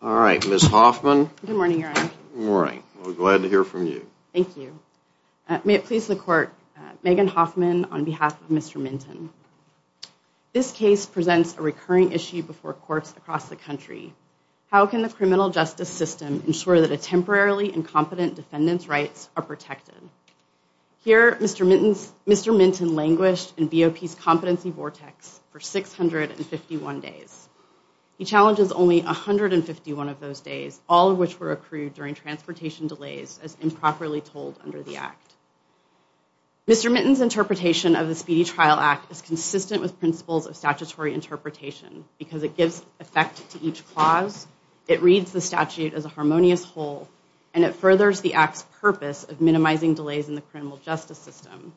All right, miss Hoffman good morning. You're right. We're glad to hear from you. Thank you May it please the court Megan Hoffman on behalf of mr. Minton This case presents a recurring issue before courts across the country How can the criminal justice system ensure that a temporarily incompetent defendants rights are protected? Here, mr. Mittens. Mr. Minton languished in BOP competency vortex for 651 days He challenges only a hundred and fifty one of those days all of which were accrued during transportation delays as improperly told under the act Mr. Mittens interpretation of the speedy trial act is consistent with principles of statutory interpretation Because it gives effect to each clause It reads the statute as a harmonious whole and it furthers the acts purpose of minimizing delays in the criminal justice system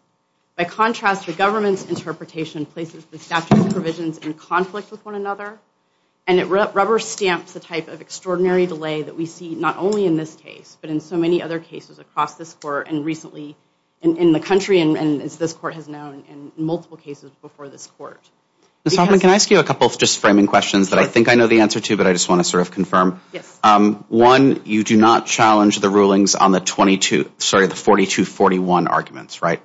By contrast the government's interpretation places the statute of provisions in conflict with one another and It rubber stamps the type of extraordinary delay that we see not only in this case But in so many other cases across this court and recently in the country and as this court has known in multiple cases before this court This probably can I ask you a couple of just framing questions that I think I know the answer to but I just want to sort Of confirm. Yes one. You do not challenge the rulings on the 22. Sorry the 42 41 arguments, right?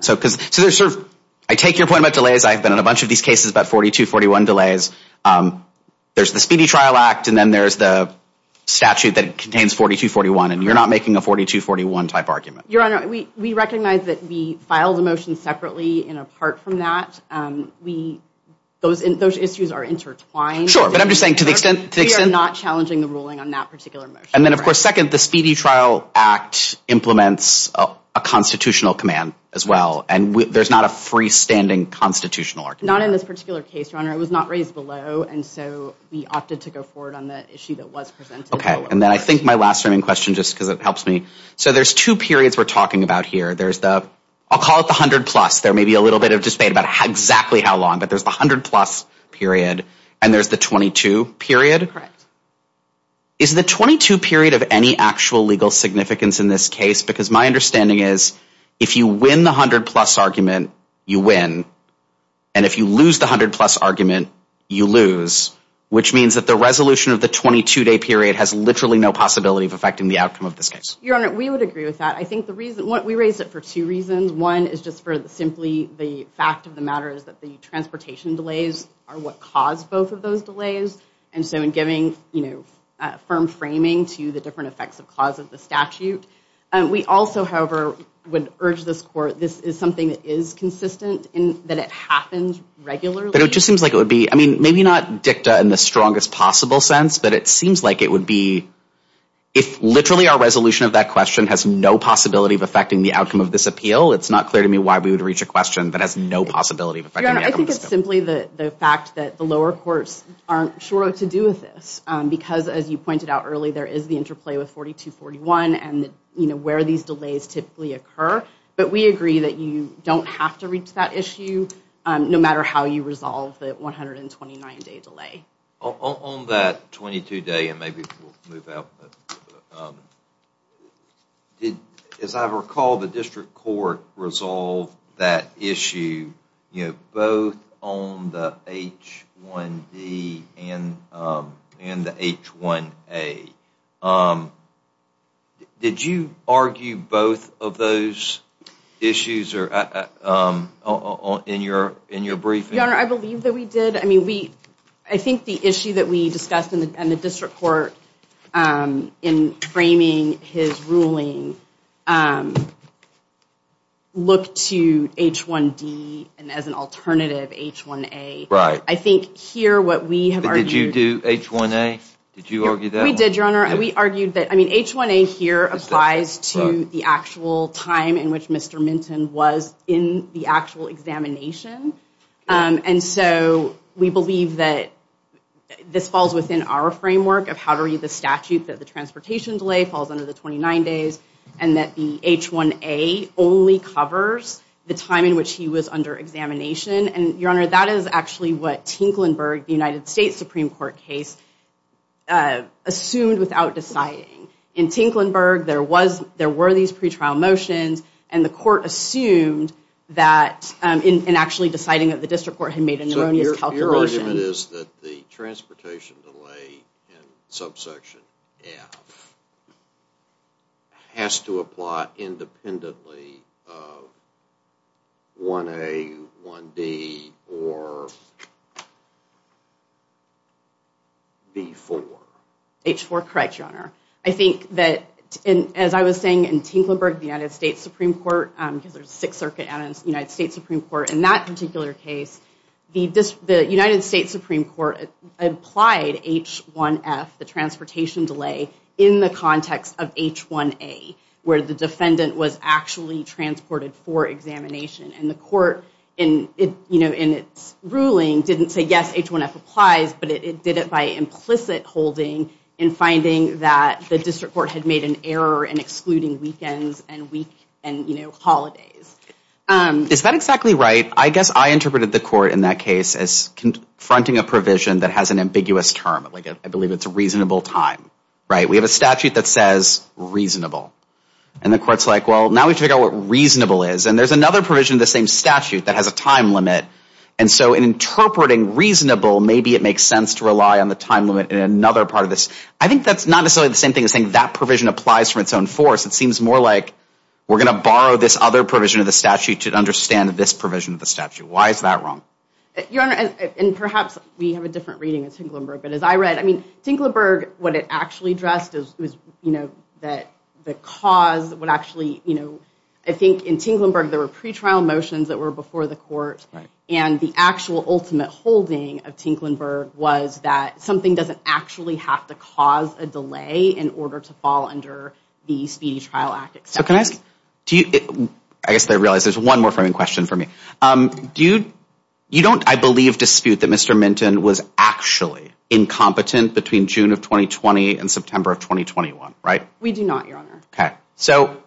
So because so there's sort of I take your point about delays. I've been in a bunch of these cases about 42 41 delays there's the speedy trial act and then there's the Statute that contains 42 41 and you're not making a 42 41 type argument your honor We we recognize that we filed a motion separately and apart from that We those in those issues are intertwined Sure But I'm just saying to the extent they are not challenging the ruling on that particular and then of course second the speedy trial act Implements a constitutional command as well and there's not a freestanding Constitutional argument in this particular case your honor. It was not raised below and so we opted to go forward on the issue That was presented. Okay, and then I think my last framing question just because it helps me. So there's two periods we're talking about here There's the I'll call it the hundred plus there may be a little bit of dismay about how exactly how long but there's 100 plus Period and there's the 22 period Is the 22 period of any actual legal significance in this case because my understanding is if you win the hundred plus argument You win and if you lose the hundred plus argument you lose Which means that the resolution of the 22-day period has literally no possibility of affecting the outcome of this case your honor We would agree with that I think the reason what we raised it for two reasons one is just for the simply the fact of the matter is that the Transportation delays are what caused both of those delays and so in giving, you know Firm framing to the different effects of cause of the statute and we also however would urge this court This is something that is consistent in that it happens regularly But it just seems like it would be I mean, maybe not dicta and the strongest possible sense But it seems like it would be if literally our resolution of that question has no possibility of affecting the outcome of this appeal It's not clear to me why we would reach a question that has no possibility Simply the the fact that the lower courts aren't sure what to do with this because as you pointed out early There is the interplay with 42 41 and you know where these delays typically occur But we agree that you don't have to reach that issue No matter how you resolve that 129 day delay on that 22 day and maybe Move out Did as I recall the district court resolved that issue, you know both on the h1d and in the h1a Did you argue both of those issues are In your in your brief, you know, I believe that we did I think the issue that we discussed in the district court in framing his ruling Look to h1d and as an alternative h1a, right? I think here what we did you do h1a? Did you argue that we did your honor? And we argued that I mean h1a here applies to the actual time in which mr. Minton was in the actual examination And so we believe that this falls within our framework of how to read the statute that the transportation delay falls under the 29 days and that the H1a only covers the time in which he was under examination and your honor That is actually what Tinklenburg the United States Supreme Court case Assumed without deciding in Tinklenburg there was there were these pretrial motions and the court assumed That in actually deciding that the district court had made in your own your calculation is that the transportation delay in subsection Has to apply independently 1a 1d or Before H4 correct your honor I think that in as I was saying in Tinklenburg the United States Supreme Court Because there's Sixth Circuit and in the United States Supreme Court in that particular case the this the United States Supreme Court Applied h1f the transportation delay in the context of h1a Where the defendant was actually transported for examination and the court in it You know in its ruling didn't say yes h1f applies But it did it by implicit holding in finding that the district court had made an error in excluding weekends and week And you know holidays Is that exactly right? I guess I interpreted the court in that case as Confronting a provision that has an ambiguous term like it. I believe it's a reasonable time, right? We have a statute that says Reasonable and the courts like well now we figure out what reasonable is and there's another provision the same statute that has a time limit And so in interpreting reasonable, maybe it makes sense to rely on the time limit in another part of this I think that's not necessarily the same thing as saying that provision applies for its own force It seems more like we're gonna borrow this other provision of the statute to understand this provision of the statute Why is that wrong? Your honor and perhaps we have a different reading of Tinklenburg But as I read I mean Tinklenburg what it actually addressed is you know that the cause would actually you know I think in Tinklenburg there were pretrial motions that were before the court and the actual ultimate holding of Tinklenburg was that something doesn't actually have to cause a delay in order to fall under The Speedy Trial Act. So can I ask do you I guess they realize there's one more framing question for me Dude, you don't I believe dispute that. Mr. Minton was actually Incompetent between June of 2020 and September of 2021, right? We do not your honor. Okay, so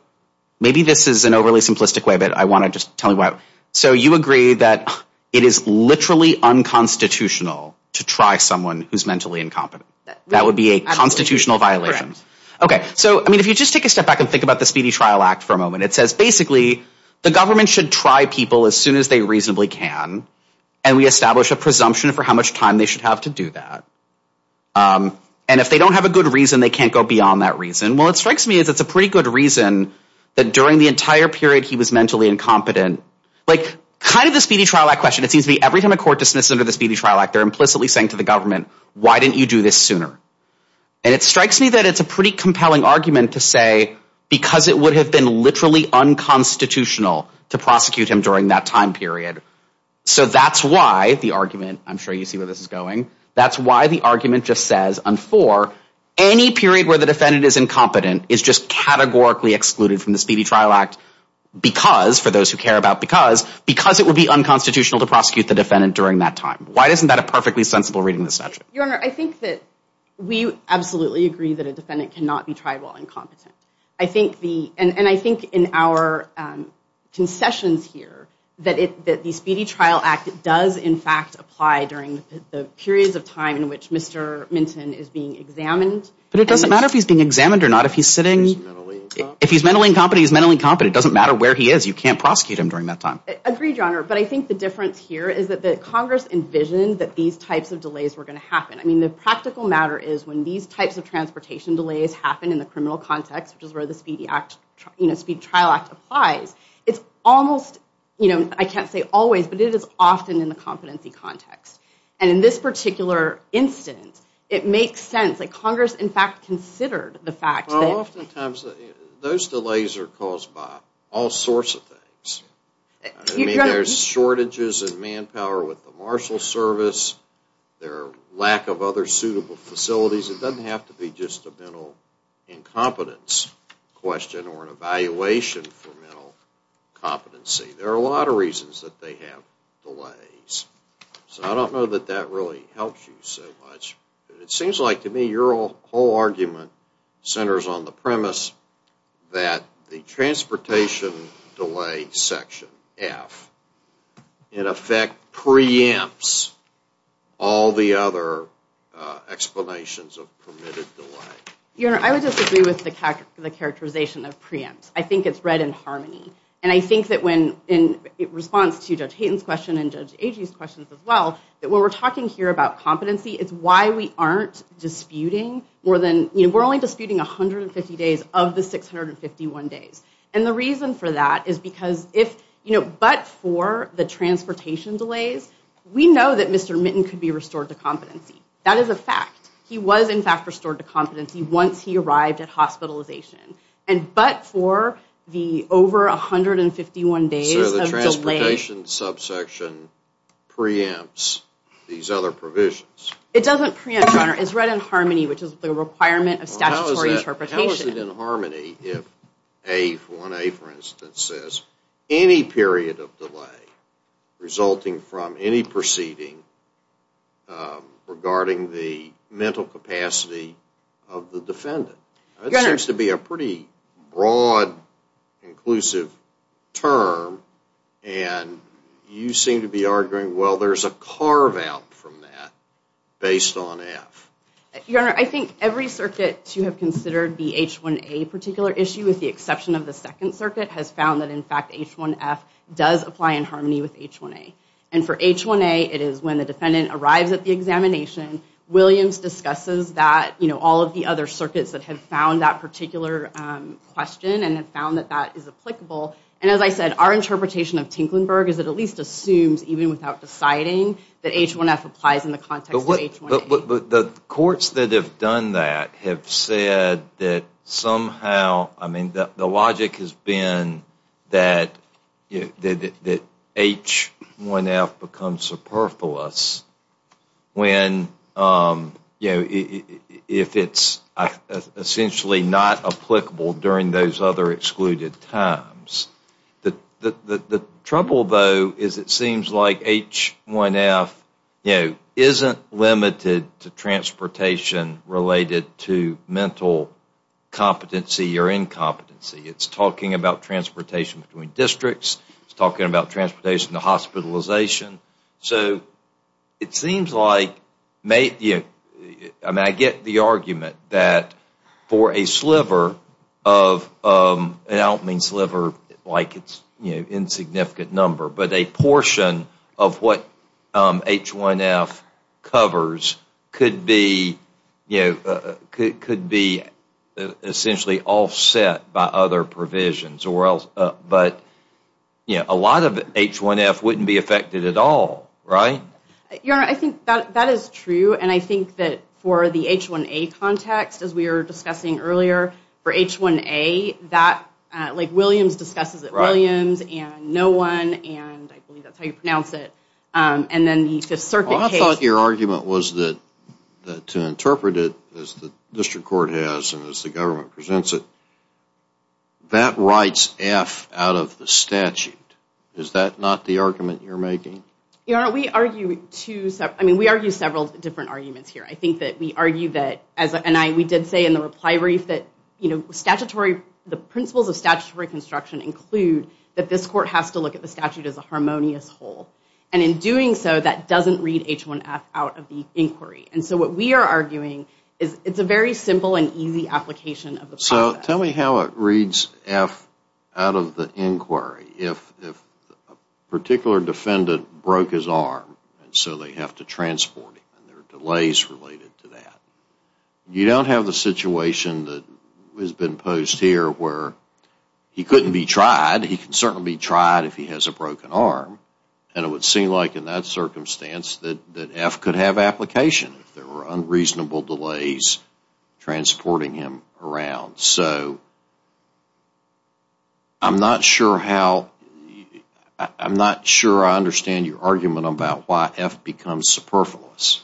Maybe this is an overly simplistic way, but I want to just tell you what so you agree That it is literally unconstitutional to try someone who's mentally incompetent. That would be a constitutional violation Okay so I mean if you just take a step back and think about the Speedy Trial Act for a moment it says basically The government should try people as soon as they reasonably can and we establish a presumption for how much time they should have to do that And if they don't have a good reason they can't go beyond that reason Well, it strikes me as it's a pretty good reason that during the entire period He was mentally incompetent like kind of the Speedy Trial Act question. It seems to be every time a court dismissed under the Speedy Trial Act They're implicitly saying to the government. Why didn't you do this sooner? And it strikes me that it's a pretty compelling argument to say because it would have been literally Unconstitutional to prosecute him during that time period So that's why the argument I'm sure you see where this is going That's why the argument just says on for any period where the defendant is incompetent is just categorically excluded from the Speedy Trial Act Because for those who care about because because it would be unconstitutional to prosecute the defendant during that time Why isn't that a perfectly sensible reading the statute your honor? I think that we absolutely agree that a defendant cannot be tribal incompetent. I think the and and I think in our Concessions here that it that the Speedy Trial Act does in fact apply during the periods of time in which mr Minton is being examined, but it doesn't matter if he's being examined or not If he's mentally incompetent, he's mentally competent doesn't matter where he is you can't prosecute him during that time. I agree, your honor But I think the difference here is that the Congress envisioned that these types of delays were going to happen I mean the practical matter is when these types of transportation delays happen in the criminal context Which is where the Speedy Act, you know Speed Trial Act applies It's almost you know, I can't say always but it is often in the competency context and in this particular Instance it makes sense like Congress in fact considered the fact Those delays are caused by all sorts of things There's shortages and manpower with the marshal service Their lack of other suitable facilities. It doesn't have to be just a mental incompetence question or an evaluation for mental Competency there are a lot of reasons that they have delays So, I don't know that that really helps you so much it seems like to me your whole argument centers on the premise that the transportation delay section F in effect preempts all the other Explanations of permitted delay, you know, I would just agree with the character the characterization of preempts That when we're talking here about competency, it's why we aren't Disputing more than you know we're only disputing a hundred and fifty days of the six hundred and fifty one days and the reason for that is because if you Know but for the transportation delays, we know that mr. Mitten could be restored to competency. That is a fact He was in fact restored to competency once he arrived at hospitalization and but for the over 151 days the transportation Subsection Preempts these other provisions. It doesn't preempt honor is read in harmony, which is the requirement of statutory interpretation Harmony if a 1a for instance says any period of delay resulting from any proceeding Regarding the mental capacity of the defendant it seems to be a pretty broad inclusive term and You seem to be arguing. Well, there's a carve-out from that based on F Your honor I think every circuit to have considered the h1a particular issue with the exception of the Second Circuit has found that in fact h1f Does apply in harmony with h1a and for h1a it is when the defendant arrives at the examination Williams discusses that you know, all of the other circuits that have found that particular Question and have found that that is applicable and as I said our Interpretation of Tinklenburg is it at least assumes even without deciding that h1f applies in the context of what? the courts that have done that have said that somehow I mean that the logic has been that you did it that h1f becomes superfluous when you know if it's Essentially not applicable during those other excluded times that the Trouble though is it seems like h1f, you know isn't limited to transportation related to mental Competency or incompetency it's talking about transportation between districts. It's talking about transportation the hospitalization so it seems like You I mean I get the argument that for a sliver of It out means liver like it's you know insignificant number, but a portion of what? h1f Covers could be you know could be Essentially all set by other provisions or else but you know a lot of h1f wouldn't be affected at all Yeah, I think that that is true and I think that for the h1a context as we were discussing earlier for h1a that Like Williams discusses it Williams and no one and I believe that's how you pronounce it and then the Fifth Circuit your argument was that To interpret it as the district court has and as the government presents it That writes F out of the statute is that not the argument you're making you know We argue to I mean we argue several different arguments here I think that we argue that as and I we did say in the reply brief that you know statutory the principles of statutory construction include that this court has to look at the statute as a harmonious whole and In doing so that doesn't read h1f out of the inquiry and so what we are arguing is It's a very simple and easy application of the so tell me how it reads F out of the inquiry if Particular defendant broke his arm and so they have to transport him and there are delays related to that You don't have the situation that has been posed here where? He couldn't be tried He can certainly be tried if he has a broken arm and it would seem like in that Circumstance that that F could have application if there were unreasonable delays transporting him around so I'm not sure how I'm not sure. I understand your argument about why F becomes superfluous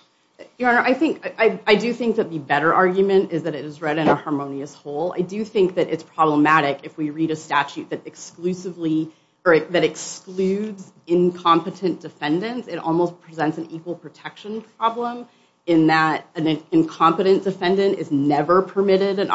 Your honor, I think I do think that the better argument is that it is read in a harmonious whole I do think that it's problematic if we read a statute that exclusively or that excludes Incompetent defendants it almost presents an equal protection problem in that an incompetent defendant is never permitted an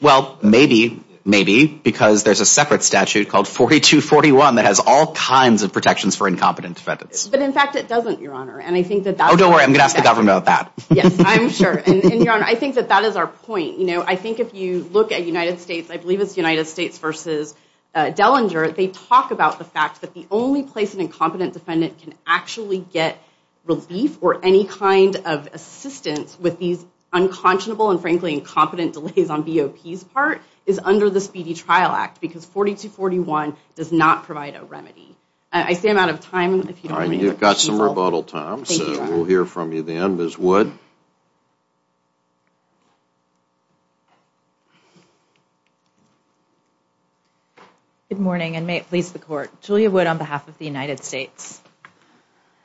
Well, maybe maybe because there's a separate statute called 42 41 that has all kinds of protections for incompetent defendants But in fact, it doesn't your honor, and I think that don't worry. I'm gonna ask the government about that Yes, I'm sure and I think that that is our point. You know, I think if you look at United States I believe it's the United States versus Dellinger they talk about the fact that the only place an incompetent defendant can actually get relief or any kind of assistance with these Unconscionable and frankly incompetent delays on BOP's part is under the Speedy Trial Act because 42 41 does not provide a remedy I stand out of time. I mean, you've got some rebuttal time. So we'll hear from you then this would Good morning and may it please the court Julia would on behalf of the United States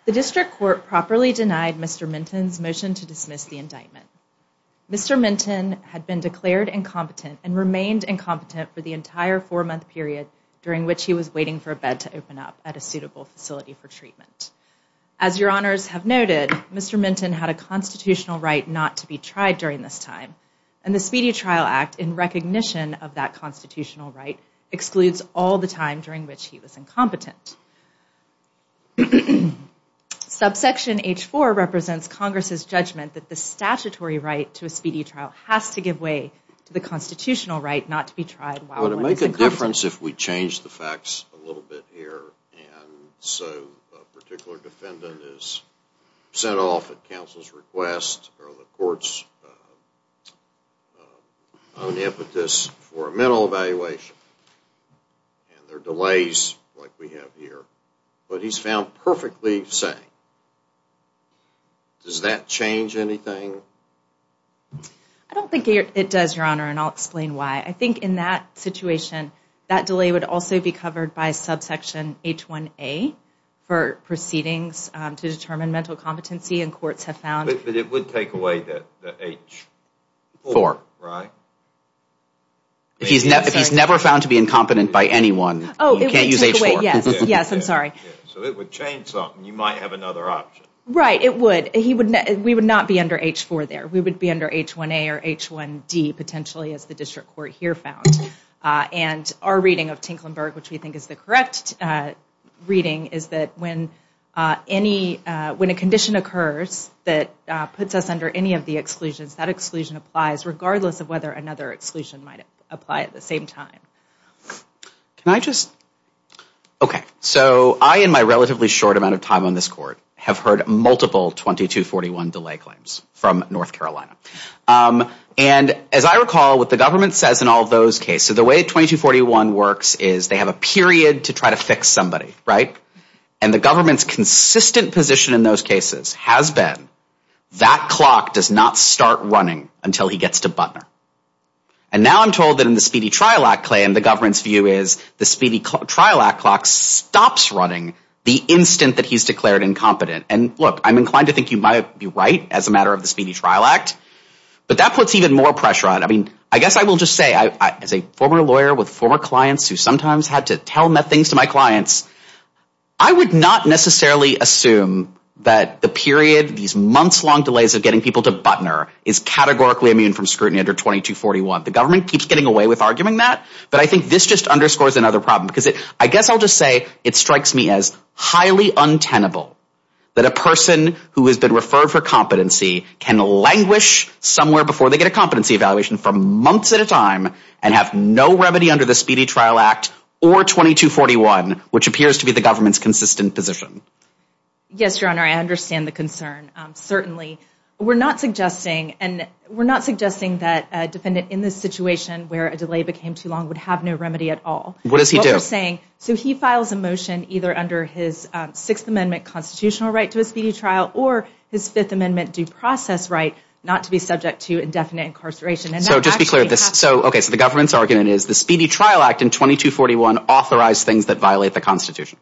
The district court properly denied. Mr. Minton's motion to dismiss the indictment Mr. Minton had been declared incompetent and remained incompetent for the entire four-month period During which he was waiting for a bed to open up at a suitable facility for treatment as your honors have noted Mr. Minton had a constitutional right not to be tried during this time and the Speedy Trial Act in recognition of that Constitutional right excludes all the time during which he was incompetent Mm-hmm Subsection h4 represents Congress's judgment that the statutory right to a speedy trial has to give way to the constitutional right not to be Tried well to make a difference if we change the facts a little bit here so Particular defendant is sent off at counsel's request or the court's Impetus for a mental evaluation And there are delays like we have here, but he's found perfectly safe Does that change anything I Don't think it does your honor and I'll explain why I think in that situation That delay would also be covered by subsection h1a For proceedings to determine mental competency and courts have found it, but it would take away that H4 right He's never found to be incompetent by anyone oh Yes, I'm sorry Right it would he would know we would not be under h4 there We would be under h1a or h1d potentially as the district court here found And our reading of Tinklenburg, which we think is the correct? reading is that when Any when a condition occurs that puts us under any of the exclusions that exclusion applies regardless of whether another exclusion apply at the same time Can I just? Okay, so I in my relatively short amount of time on this court have heard multiple 2241 delay claims from North Carolina And as I recall what the government says in all those cases the way 2241 works is they have a period to try to fix somebody right and the government's consistent position in those cases has been That clock does not start running until he gets to butler and Now I'm told that in the speedy trial act claim the government's view is the speedy trial act clock Stops running the instant that he's declared incompetent and look I'm inclined to think you might be right as a matter of the speedy trial Act but that puts even more pressure on I mean I guess I will just say I as a former lawyer with four clients who sometimes had to tell me things to my clients I Delays of getting people to butner is Categorically immune from scrutiny under 2241 the government keeps getting away with arguing that but I think this just underscores another problem because it I guess I'll just say it strikes me as highly untenable that a person who has been referred for competency can languish somewhere before they get a competency evaluation from months at a time and have no remedy under the speedy trial act or 2241 which appears to be the government's consistent position Yes, your honor, I understand the concern certainly We're not suggesting and we're not suggesting that a defendant in this situation where a delay became too long would have no remedy at all What does he do saying so he files a motion either under his sixth amendment constitutional right to a speedy trial or his fifth amendment? Due process right not to be subject to indefinite incarceration and so just be clear this so okay So the government's argument is the speedy trial act in 2241 authorized things that violate the Constitution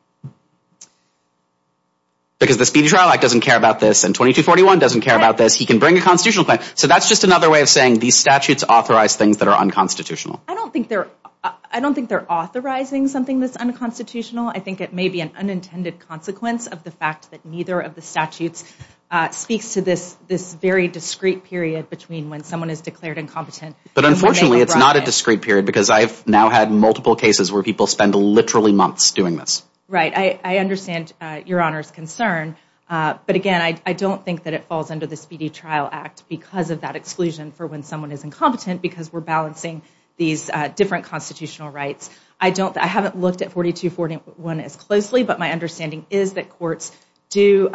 Because the speedy trial act doesn't care about this and 2241 doesn't care about this he can bring a constitutional claim So that's just another way of saying these statutes authorized things that are unconstitutional I don't think they're I don't think they're authorizing something that's unconstitutional I think it may be an unintended consequence of the fact that neither of the statutes Speaks to this this very discreet period between when someone is declared incompetent But unfortunately, it's not a discreet period because I've now had multiple cases where people spend literally months doing this, right? I understand your honors concern But again I don't think that it falls under the speedy trial act because of that exclusion for when someone is incompetent because we're balancing These different constitutional rights. I don't I haven't looked at 4241 as closely, but my understanding is that courts do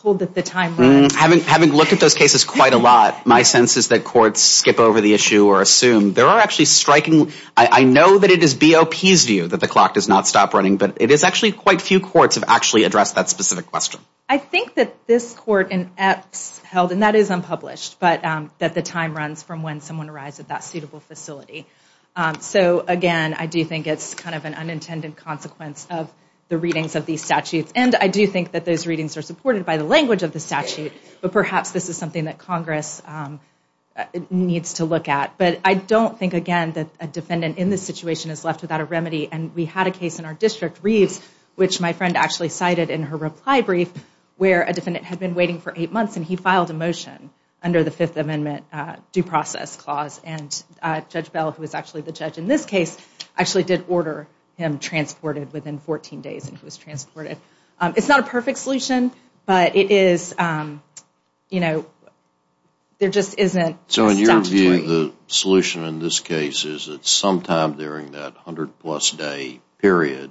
Hold that the time having haven't looked at those cases quite a lot My sense is that courts skip over the issue or assume there are actually striking I know that it is BOP's view that the clock does not stop running But it is actually quite few courts have actually addressed that specific question I think that this court and X held and that is unpublished But that the time runs from when someone arrives at that suitable facility So again, I do think it's kind of an unintended consequence of the readings of these statutes And I do think that those readings are supported by the language of the statute, but perhaps this is something that Congress Needs to look at but I don't think again that a defendant in this situation is left without a remedy and we had a case In our district Reeves which my friend actually cited in her reply brief where a defendant had been waiting for eight months and he filed a motion under the Fifth Amendment due process clause and Judge Bell who was actually the judge in this case actually did order him transported within 14 days and who was transported It's not a perfect solution, but it is You know There just isn't so in your view the solution in this case is that sometime during that hundred plus day period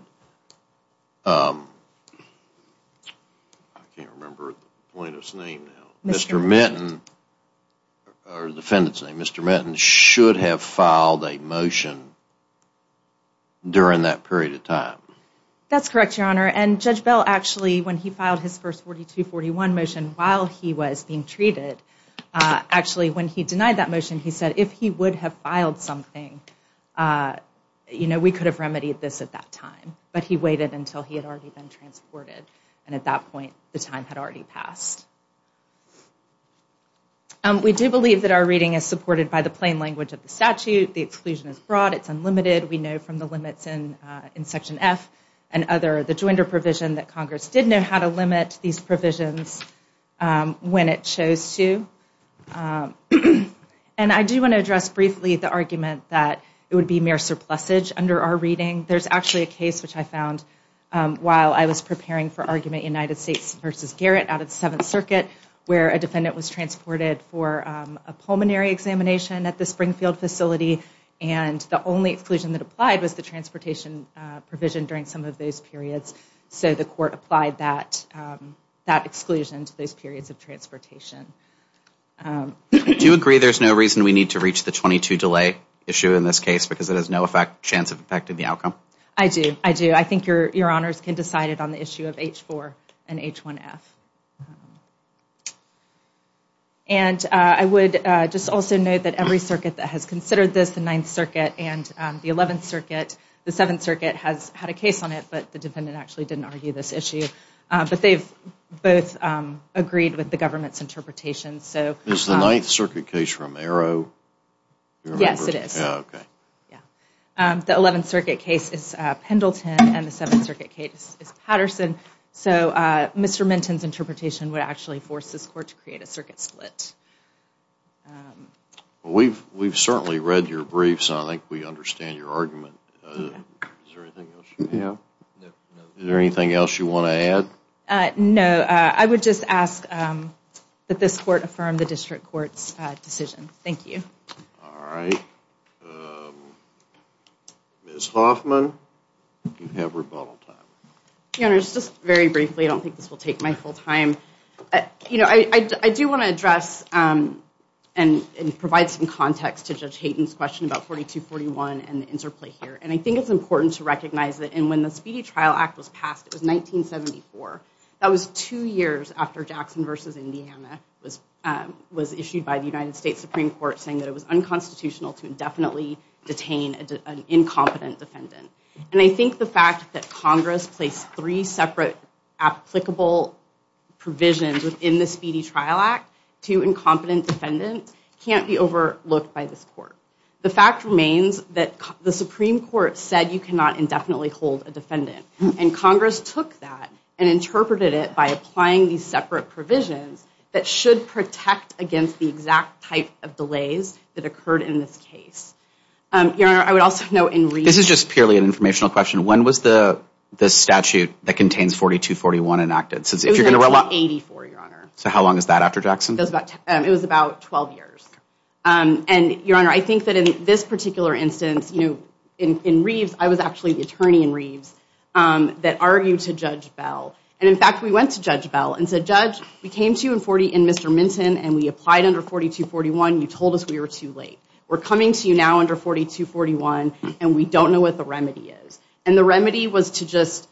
Mr. Minton Defendant's name. Mr. Minton should have filed a motion During that period of time That's correct, Your Honor and Judge Bell actually when he filed his first 42-41 motion while he was being treated Actually when he denied that motion, he said if he would have filed something You know, we could have remedied this at that time But he waited until he had already been transported and at that point the time had already passed We do believe that our reading is supported by the plain language of the statute the exclusion is broad it's unlimited We know from the limits in in Section F and other the joinder provision that Congress did know how to limit these provisions when it shows to And I do want to address briefly the argument that it would be mere surplus age under our reading There's actually a case which I found while I was preparing for argument United States versus Garrett out of the Seventh Circuit where a defendant was transported for a Was the transportation provision during some of those periods so the court applied that that exclusion to those periods of transportation Do you agree? There's no reason we need to reach the 22 delay issue in this case because it has no effect chance of affected the outcome I do I do. I think your your honors can decide it on the issue of h4 and h1f and I would just also note that every circuit that has considered this the Ninth Circuit and the Eleventh Circuit The Seventh Circuit has had a case on it, but the defendant actually didn't argue this issue But they've both Agreed with the government's interpretation, so there's the Ninth Circuit case Romero Yes, it is The Eleventh Circuit case is Pendleton and the Seventh Circuit case is Patterson so Mr.. Minton's interpretation would actually force this court to create a circuit split Well, we've we've certainly read your briefs. I think we understand your argument Yeah Is there anything else you want to add? No, I would just ask That this court affirmed the district courts decision. Thank you all right Miss Hoffman You have rebuttal time You know it's just very briefly. I don't think this will take my full time You know I do want to address And and provide some context to judge Hayden's question about 4241 and the interplay here And I think it's important to recognize that and when the speedy trial act was passed. It was 1974 that was two years after Jackson versus, Indiana Was issued by the United States Supreme Court saying that it was unconstitutional to indefinitely detain an incompetent defendant And I think the fact that Congress placed three separate applicable Provisions within the speedy trial act to incompetent defendants can't be overlooked by this court the fact remains that the Supreme Court said you cannot indefinitely hold a defendant and Congress took that and Interpreted it by applying these separate provisions that should protect against the exact type of delays that occurred in this case Your honor I would also know in this is just purely an informational question When was the this statute that contains 4241 enacted since if you're gonna run 84 your honor So how long is that after Jackson does about it was about 12 years and your honor? I think that in this particular instance you know in Reeves. I was actually the attorney in Reeves That argued to judge Bell and in fact we went to judge Bell and said judge we came to you in 40 in mr. Minton and we applied under 4241 you told us we were too late We're coming to you now under 4241 and we don't know what the remedy is and the remedy was to just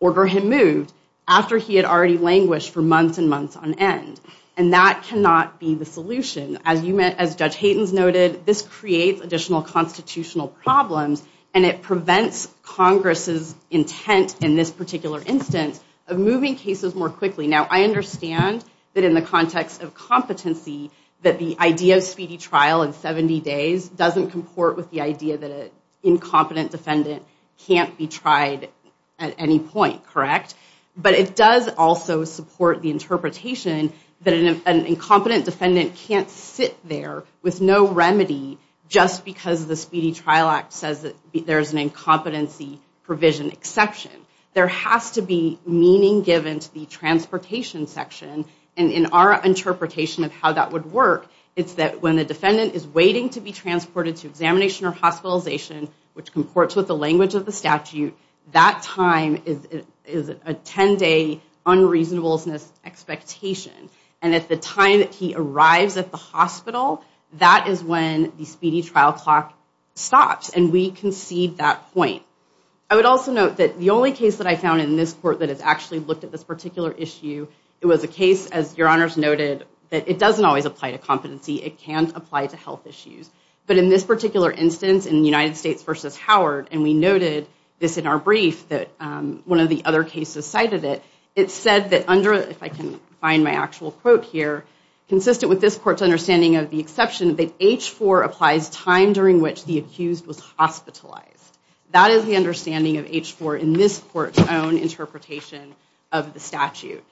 order him moved after he had already languished for months and months on end and That cannot be the solution as you meant as judge Hayden's noted this creates additional Constitutional problems and it prevents Congress's intent in this particular instance of moving cases more quickly now I understand that in the context of competency that the idea of speedy trial in 70 days doesn't comport with the idea that it Incompetent defendant can't be tried at any point correct But it does also support the interpretation that an incompetent defendant can't sit there with no remedy Just because the Speedy Trial Act says that there's an incompetency provision exception there has to be meaning given to the Transportation section and in our interpretation of how that would work It's that when the defendant is waiting to be transported to examination or hospitalization Which comports with the language of the statute that time is it is a 10-day? Unreasonableness expectation and at the time that he arrives at the hospital That is when the speedy trial clock stops and we concede that point I would also note that the only case that I found in this court that has actually looked at this particular issue It was a case as your honors noted that it doesn't always apply to competency It can't apply to health issues But in this particular instance in the United States versus Howard and we noted this in our brief that One of the other cases cited it it said that under if I can find my actual quote here Consistent with this court's understanding of the exception that h4 applies time during which the accused was hospitalized That is the understanding of h4 in this court's own interpretation of the statute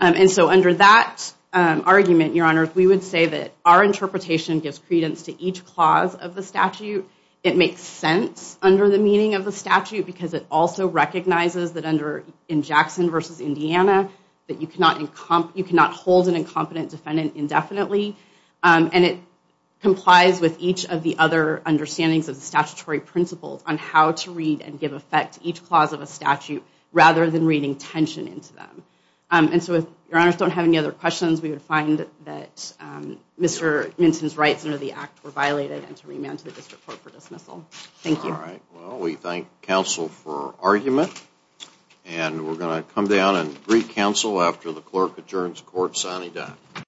and so under that Argument your honors. We would say that our interpretation gives credence to each clause of the statute It makes sense under the meaning of the statute because it also recognizes that under in Jackson versus, Indiana That you cannot encomp you cannot hold an incompetent defendant indefinitely And it complies with each of the other Understandings of the statutory principles on how to read and give effect each clause of a statute rather than reading tension into them And so if your honors don't have any other questions, we would find that Mr. Minton's rights under the act were violated and to remand to the district court for dismissal. Thank you All right. Well, we thank counsel for argument and We're gonna come down and read counsel after the clerk adjourns court sunny day